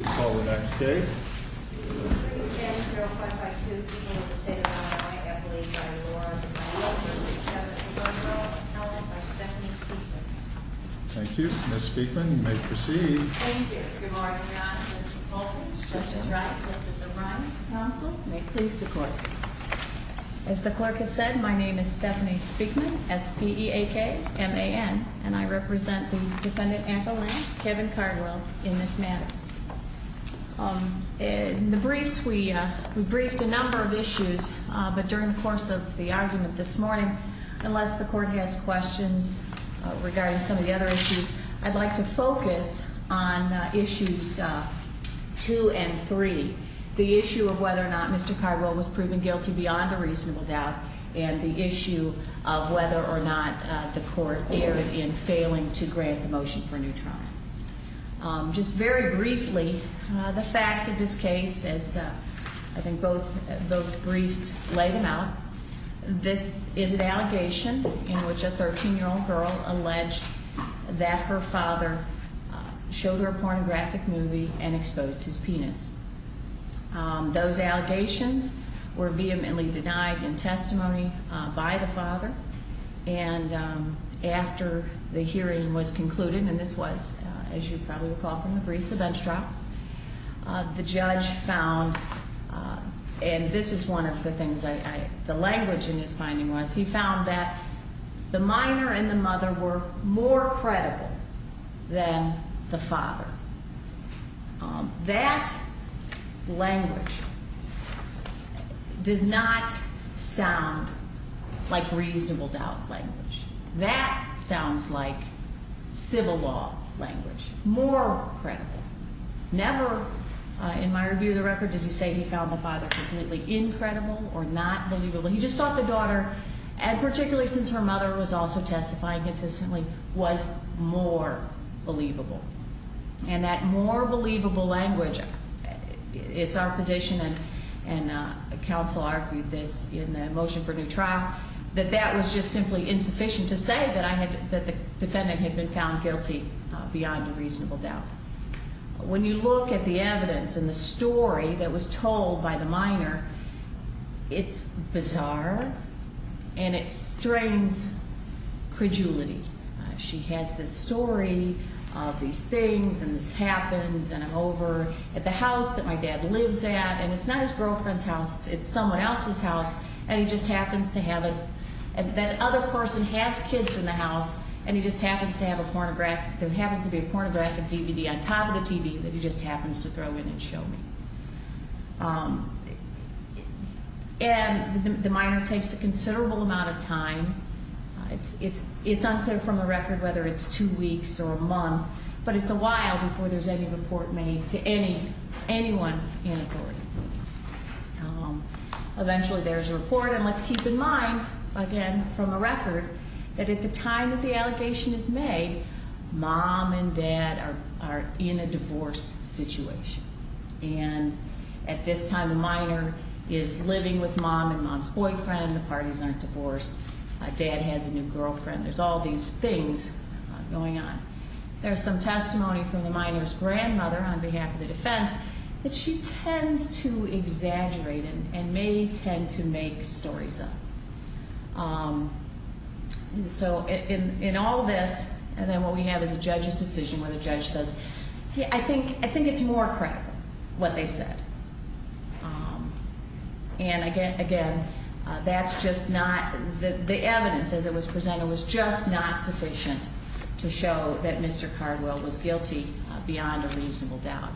S. P. E. A. K. M. A. N. And I represent the defendant, Anthony, Kevin Cardwell, in this matter. In the briefs, we briefed a number of issues, but during the course of the argument this morning, unless the court has questions regarding some of the other issues, I'd like to focus on issues two and three, the issue of whether or not Mr. Cardwell was proven guilty beyond a reasonable doubt, and the issue of whether or not the court erred in failing to grant the motion for new trial. Just very briefly, the facts of this case, as I think both briefs laid them out, this is an allegation in which a 13-year-old girl alleged that her father showed her a pornographic movie and exposed his penis. Those allegations were vehemently denied in testimony by the father, and after the hearing was concluded, and this was, as you probably recall from the briefs, a bench trial, the judge found, and this is one of the things I, the language in his finding was, he found that the minor and the mother were more credible than the father. That language does not sound like reasonable doubt language. That sounds like civil law language, more credible. Never, in my review of the record, does he say he found the father completely incredible or not believable. He just thought the daughter, and particularly since her mother was also testifying consistently, was more believable. And that more believable language, it's our position, and counsel argued this in the motion for new trial, that that was just simply insufficient to say that the defendant had been found guilty beyond a reasonable doubt. When you look at the evidence and the story that was told by the minor, it's bizarre, and it strains credulity. She has this story of these things, and this happens, and I'm over at the house that my dad lives at, and it's not his girlfriend's house, it's someone else's house, and he just happens to have a, that other person has kids in the family on top of the TV that he just happens to throw in and show me. And the minor takes a considerable amount of time. It's unclear from the record whether it's two weeks or a month, but it's a while before there's any report made to anyone in authority. Eventually there's a report, and let's keep in mind, again, from the record, that at the time that the allegation is made, mom and dad are in a divorce situation, and at this time the minor is living with mom and mom's boyfriend, the parties aren't divorced, dad has a new girlfriend, there's all these things going on. There's some testimony from the minor's grandmother on behalf of the defense that she tends to exaggerate and may tend to make stories up. So in all of this, and then what we have is a judge's decision where the judge says, I think it's more credible what they said. And again, that's just not, the evidence as it was presented was just not sufficient to show that Mr. Cardwell was guilty beyond a reasonable doubt.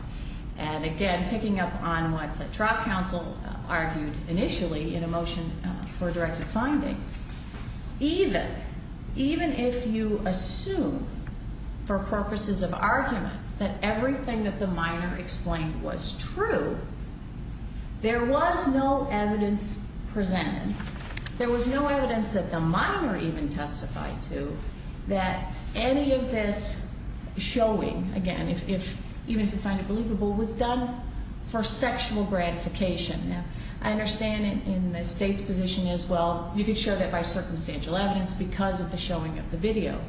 And again, picking up on what the trial counsel argued initially in a motion for a directive finding, even, even if you assume for purposes of argument that everything that the minor explained was true, there was no evidence presented, there was no evidence that the minor even testified to that any of this showing, again, even if you find it believable, was done for sexual gratification. Now, I understand in the State's position as well, you could show that by circumstantial evidence because of the showing of the video.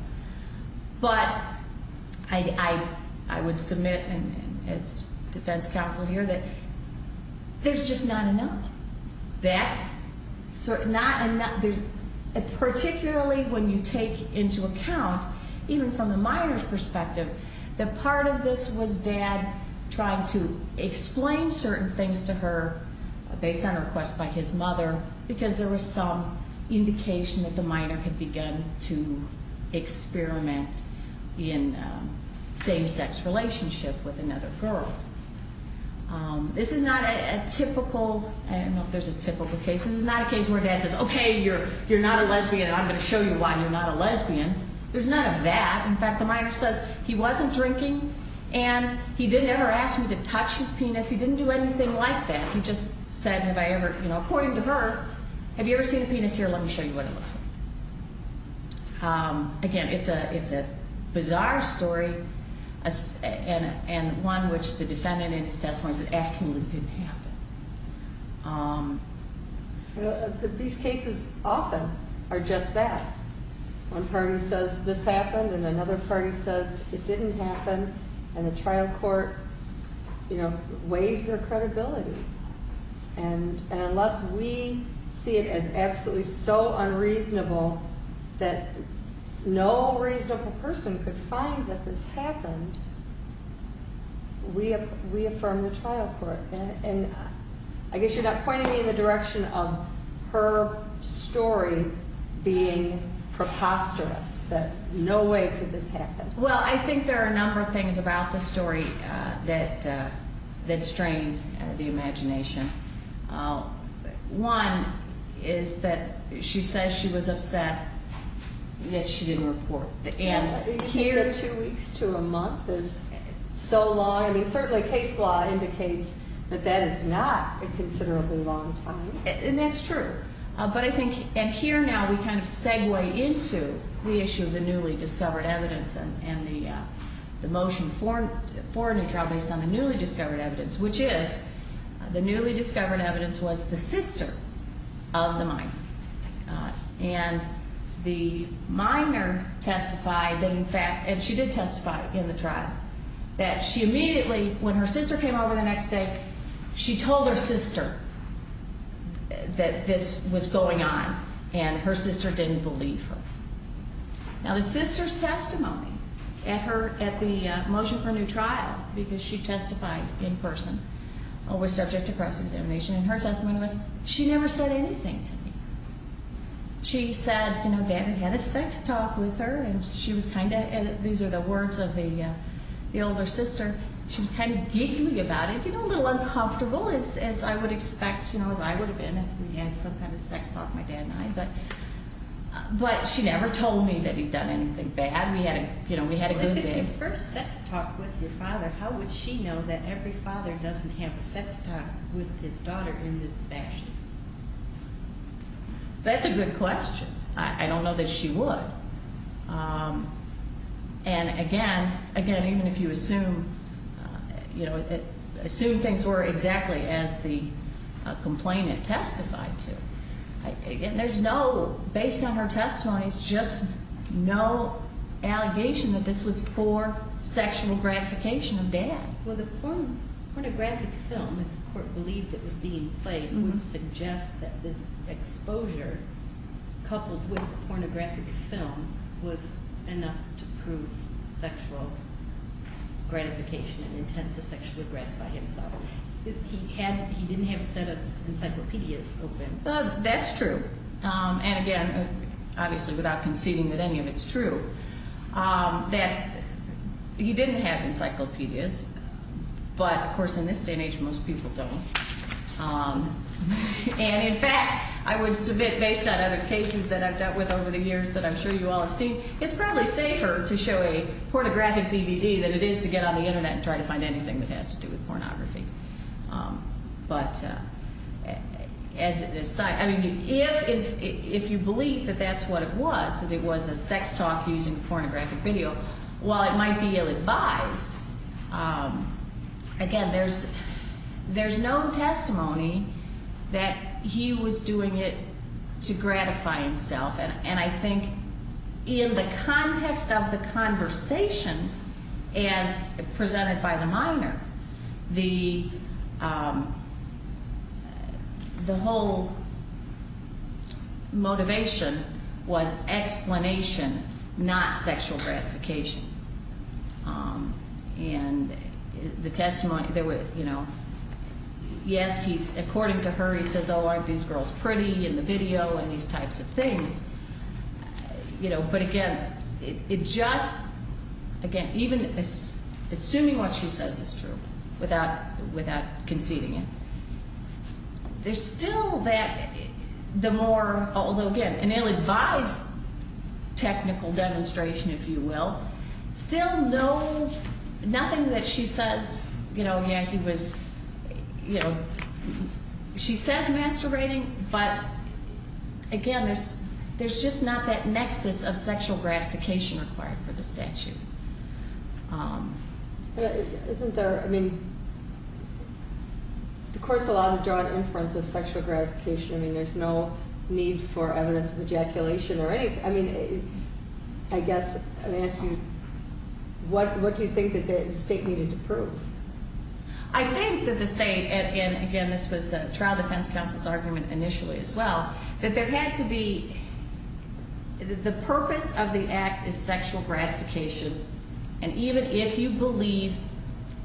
But I would submit, and it's defense counsel here, that there's just not enough. That's not enough. Particularly when you take into account, even from the minor's perspective, that part of this was dad trying to explain certain things to her based on a request by his mother because there was some indication that the minor had begun to experiment in a same-sex relationship with another girl. This is not a typical, I don't know if there's a typical case, this is not a case where dad says, okay, you're not a lesbian and I'm going to show you why you're not a lesbian. There's none of that. In fact, the minor says he wasn't drinking and he didn't ever ask me to touch his penis. He didn't do anything like that. He just said, have I ever, you know, according to her, have you ever seen a penis here? Let bizarre story and one which the defendant in his testimony said absolutely didn't happen. These cases often are just that. One party says this happened and another party says it didn't happen and the trial court, you know, weighs their credibility. And unless we see it as absolutely so unreasonable that no reasonable person could find that this happened, we affirm the trial court. And I guess you're not pointing me in the direction of her story being preposterous, that no way could this happen. Well, I think there are a number of things about the story that strain the imagination. One is that she says she was upset, yet she didn't report. And here two weeks to a month is so long. I mean, certainly case law indicates that that is not a considerably long time. And that's true. But I think, and here now we kind of segue into the issue of the newly discovered evidence and the motion for a new trial based on the newly discovered evidence, which is the newly discovered evidence was the sister of the minor. And the minor testified that in fact, and she did testify in the trial, that she immediately, when her sister came over the next day, she told her sister that this was going on and that her sister didn't believe her. Now the sister's testimony at the motion for a new trial, because she testified in person, was subject to cross-examination, and her testimony was, she never said anything to me. She said, you know, Dad had a sex talk with her, and she was kind of, these are the words of the older sister, she was kind of giggly about it, you know, a little uncomfortable as I would expect, you know, as I would have been if we had some kind of sex talk, my dad and I, but she never told me that he'd done anything bad. We had a, you know, we had a good day. If it's your first sex talk with your father, how would she know that every father doesn't have a sex talk with his daughter in this fashion? That's a good question. I don't know that she would. And again, even if you assume, you know, assume things were exactly as the complainant testified to. There's no, based on her testimony, there's just no allegation that this was for sexual gratification of Dad. Well, the pornographic film, if the court believed it was being played, it would suggest that the exposure coupled with the pornographic film was enough to prove sexual gratification and intent to sexually gratify himself. He didn't have a set of encyclopedias open. That's true. And again, obviously without conceding that any of it's true, that he didn't have encyclopedias, but of course in this day and age, most people don't. And in fact, I would submit based on other cases that I've dealt with over the years that I'm sure you all have seen, it's probably safer to show a pornographic DVD than it is to get on the Internet and try to find anything that has to do with pornography. But as a side, I mean, if you believe that that's what it was, that it was a sex talk using pornographic video, while it might be ill-advised, again, there's no testimony that he was doing it to gratify himself. And I think in the context of the conversation as presented by the minor, the whole motivation was explanation, not sexual gratification. And the testimony, you know, yes, according to her, he says, oh, aren't these girls pretty in the video and these types of things. You know, but again, it just, again, even assuming what she says is true, without conceding it, there's still that, the more, although again, an ill-advised technical demonstration, if you will, still no, nothing that she says, you know, yeah, he was, you know, she says masturbating, but again, there's just not that nexus of sexual gratification required for the statute. Isn't there, I mean, the court's allowed to draw an inference of sexual gratification. I mean, there's no need for evidence of ejaculation or anything. I mean, I guess I'm going to ask you, what do you think that the state needed to prove? I think that the state, and again, this was a trial defense counsel's argument initially as well, that there had to be, the purpose of the act is sexual gratification, and even if you believe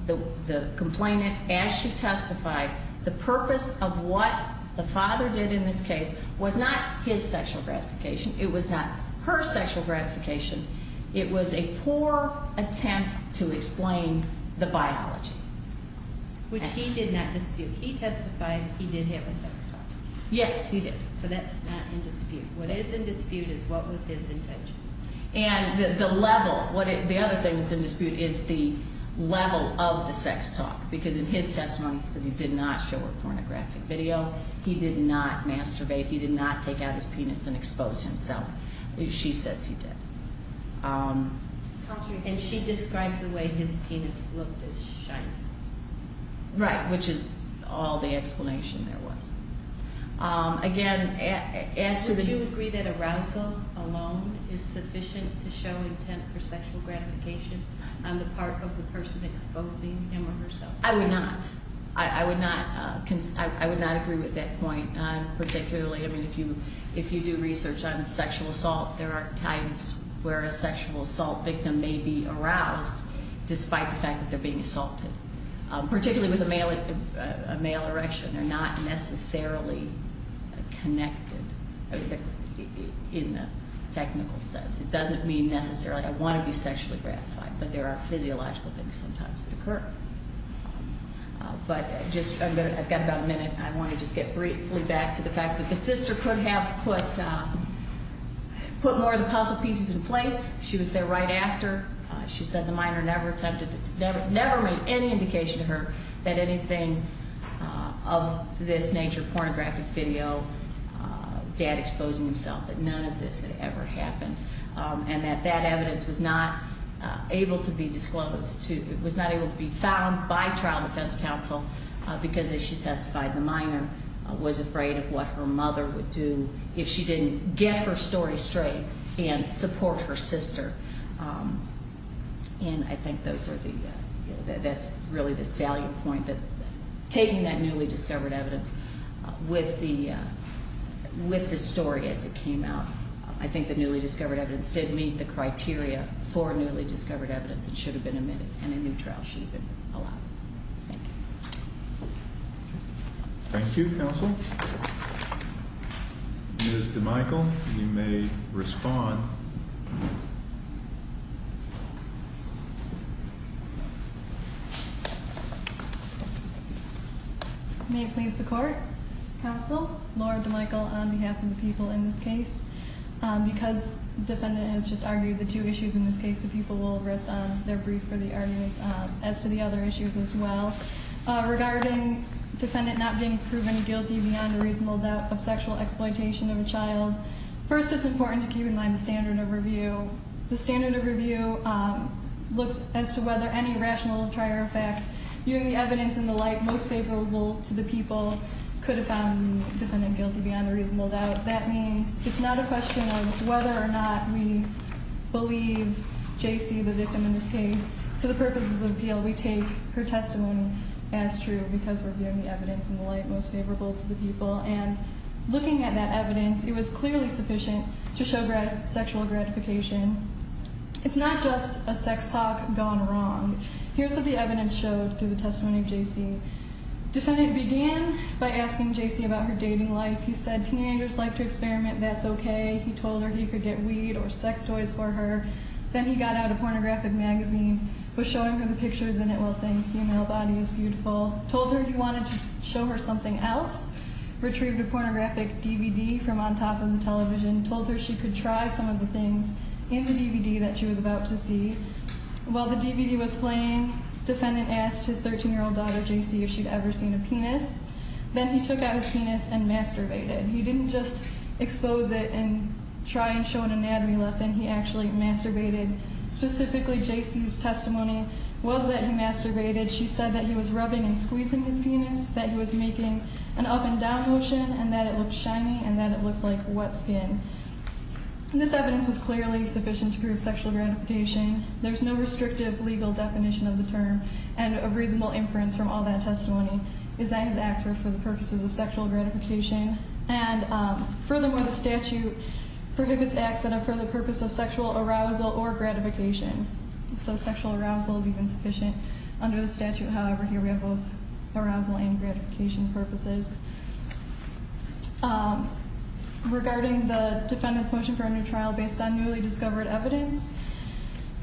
the complainant, as she testified, the purpose of what the father did in this case was not his sexual gratification. It was not her sexual gratification. It was a poor attempt to explain the biology. Which he did not dispute. He testified he did have a sex drive. Yes, he did. So that's not in dispute. What is in dispute is what was his intention. And the level, the other thing that's in dispute is the level of the sex talk. Because in his testimony, he said he did not show her pornographic video. He did not masturbate. He did not take out his penis and expose himself. She says he did. And she described the way his penis looked as shiny. Right, which is all the explanation there was. Again, as to the... Would you agree that arousal alone is sufficient to show intent for sexual gratification on the part of the person exposing him or herself? I would not. I would not agree with that point. Particularly, I mean, if you do research on sexual assault, there are times where a sexual assault victim may be aroused despite the fact that they're being assaulted. Particularly with a male erection. They're not necessarily connected in the technical sense. It doesn't mean necessarily, I want to be sexually gratified. But there are physiological things sometimes that occur. But I've got about a minute. I want to just get briefly back to the fact that the sister could have put more of the puzzle pieces in place. She was there right after. She said the minor never made any indication to her that anything of this nature, pornographic video, dad exposing himself, that none of this had ever happened. And that that evidence was not able to be disclosed. It was not able to be found by trial and defense counsel because, as she testified, the minor was afraid of what her mother would do if she didn't get her story straight and support her sister. And I think that's really the salient point, that taking that newly discovered evidence with the story as it came out. I think the newly discovered evidence did meet the criteria for newly discovered evidence and should have been admitted in a new trial. She should have been allowed. Thank you. Thank you, counsel. Ms. DeMichel, you may respond. Thank you. May it please the court. Counsel, Laura DeMichel on behalf of the people in this case. Because the defendant has just argued the two issues in this case, the people will rest on their brief for the arguments as to the other issues as well. Regarding defendant not being proven guilty beyond a reasonable doubt of sexual exploitation of a child, first it's important to keep in mind the standard of review. The standard of review looks as to whether any rational or prior fact, viewing the evidence in the light most favorable to the people, could have found the defendant guilty beyond a reasonable doubt. That means it's not a question of whether or not we believe J.C., the victim in this case, for the purposes of appeal, we take her testimony as true because we're viewing the evidence in the light most favorable to the people. And looking at that evidence, it was clearly sufficient to show sexual gratification. It's not just a sex talk gone wrong. Here's what the evidence showed through the testimony of J.C. Defendant began by asking J.C. about her dating life. He said teenagers like to experiment. That's okay. He told her he could get weed or sex toys for her. Then he got out a pornographic magazine, was showing her the pictures in it while saying the female body is beautiful, told her he wanted to show her something else, retrieved a pornographic DVD from on top of the television, told her she could try some of the things in the DVD that she was about to see. While the DVD was playing, defendant asked his 13-year-old daughter, J.C., if she'd ever seen a penis. Then he took out his penis and masturbated. He didn't just expose it and try and show an anatomy lesson. He actually masturbated. Specifically, J.C.'s testimony was that he masturbated. She said that he was rubbing and squeezing his penis, that he was making an up and down motion, and that it looked shiny and that it looked like wet skin. This evidence was clearly sufficient to prove sexual gratification. There's no restrictive legal definition of the term and a reasonable inference from all that testimony is that his acts were for the purposes of sexual gratification. And furthermore, the statute prohibits acts that are for the purpose of sexual arousal or gratification. So sexual arousal is even sufficient under the statute. However, here we have both arousal and gratification purposes. Regarding the defendant's motion for a new trial based on newly discovered evidence,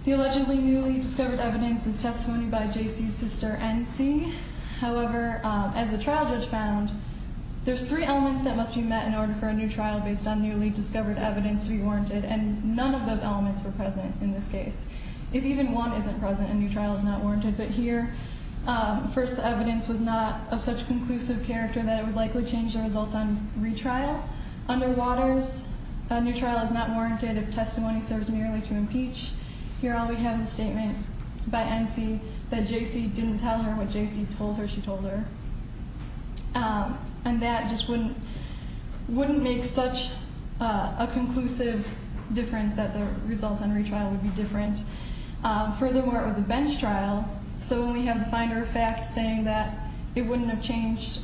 the allegedly newly discovered evidence is testimony by J.C.'s sister, N.C. However, as the trial judge found, there's three elements that must be met in order for a new trial based on newly discovered evidence to be warranted, and none of those elements were present in this case. If even one isn't present, a new trial is not warranted. But here, first the evidence was not of such conclusive character that it would likely change the results on retrial. Under Waters, a new trial is not warranted if testimony serves merely to impeach. Here all we have is a statement by N.C. that J.C. didn't tell her what J.C. told her she told her. And that just wouldn't make such a conclusive difference that the results on retrial would be different. Furthermore, it was a bench trial, so when we have the finder of fact saying that it wouldn't have changed,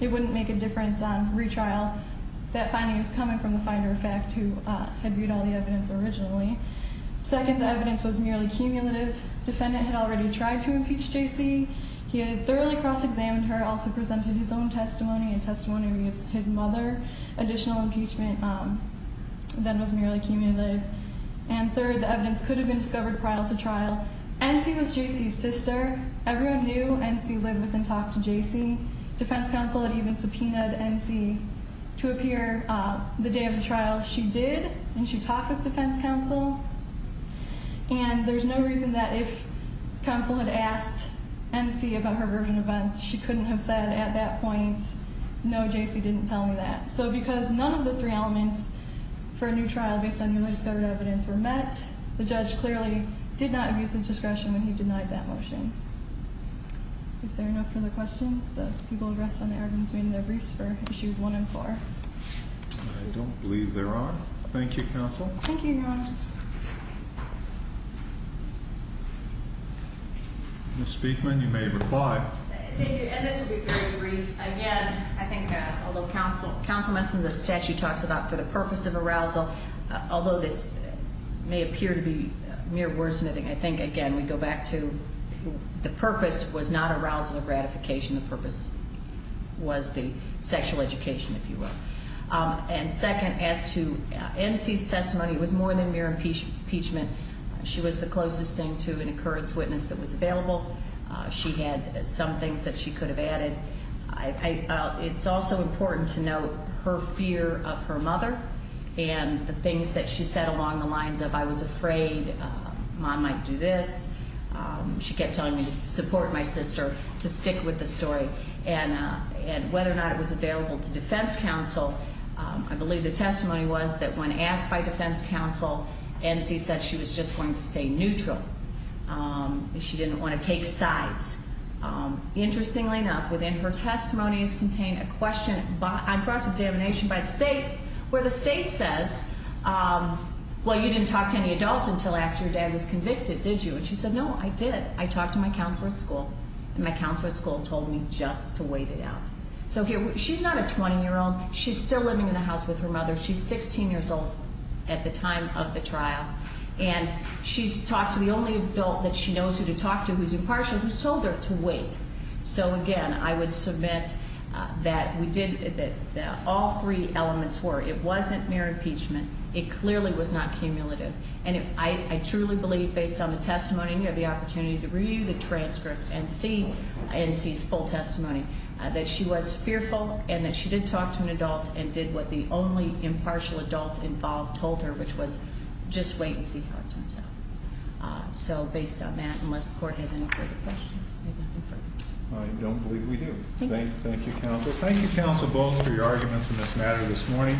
it wouldn't make a difference on retrial, that finding is coming from the finder of fact who had viewed all the evidence originally. Second, the evidence was merely cumulative. Defendant had already tried to impeach J.C. He had thoroughly cross-examined her, also presented his own testimony and testimony of his mother. Additional impeachment then was merely cumulative. And third, the evidence could have been discovered prior to trial. N.C. was J.C.'s sister. Everyone knew N.C. lived with and talked to J.C. Defense counsel had even subpoenaed N.C. to appear the day of the trial. She did, and she talked with defense counsel. And there's no reason that if counsel had asked N.C. about her version of events, she couldn't have said at that point, no, J.C. didn't tell me that. So because none of the three elements for a new trial based on newly discovered evidence were met, the judge clearly did not abuse his discretion when he denied that motion. Is there enough for the questions? The people who rest on the items remain in their briefs for issues one and four. I don't believe there are. Thank you, counsel. Thank you, Your Honors. Ms. Speakman, you may reply. Thank you. And this will be very brief. Again, I think that although counsel must know the statute talks about for the purpose of arousal, although this may appear to be mere wordsmithing, I think, again, we go back to the purpose was not arousal or gratification. The purpose was the sexual education, if you will. And second, as to N.C.'s testimony, it was more than mere impeachment. She was the closest thing to an occurrence witness that was available. She had some things that she could have added. It's also important to note her fear of her mother and the things that she said along the lines of I was afraid Mom might do this. She kept telling me to support my sister, to stick with the story. And whether or not it was available to defense counsel, I believe the testimony was that when asked by defense counsel, N.C. said she was just going to stay neutral. She didn't want to take sides. Interestingly enough, within her testimony is contained a question on cross-examination by the state, where the state says, well, you didn't talk to any adult until after your dad was convicted, did you? And she said, no, I did. I talked to my counselor at school, and my counselor at school told me just to wait it out. So here, she's not a 20-year-old. She's still living in the house with her mother. She's 16 years old at the time of the trial. And she's talked to the only adult that she knows who to talk to, who's impartial, who's told her to wait. So, again, I would submit that we did, that all three elements were. It wasn't mere impeachment. It clearly was not cumulative. And I truly believe, based on the testimony, you have the opportunity to review the transcript and see N.C.'s full testimony, that she was fearful and that she did talk to an adult and did what the only impartial adult involved told her, which was just wait and see how it turns out. So, based on that, unless the court has any further questions, I have nothing further. I don't believe we do. Thank you, counsel. Thank you, counsel Bowles, for your arguments in this matter this morning.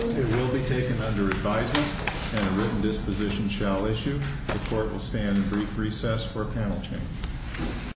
It will be taken under advisement and a written disposition shall issue. The court will stand in brief recess for a panel change.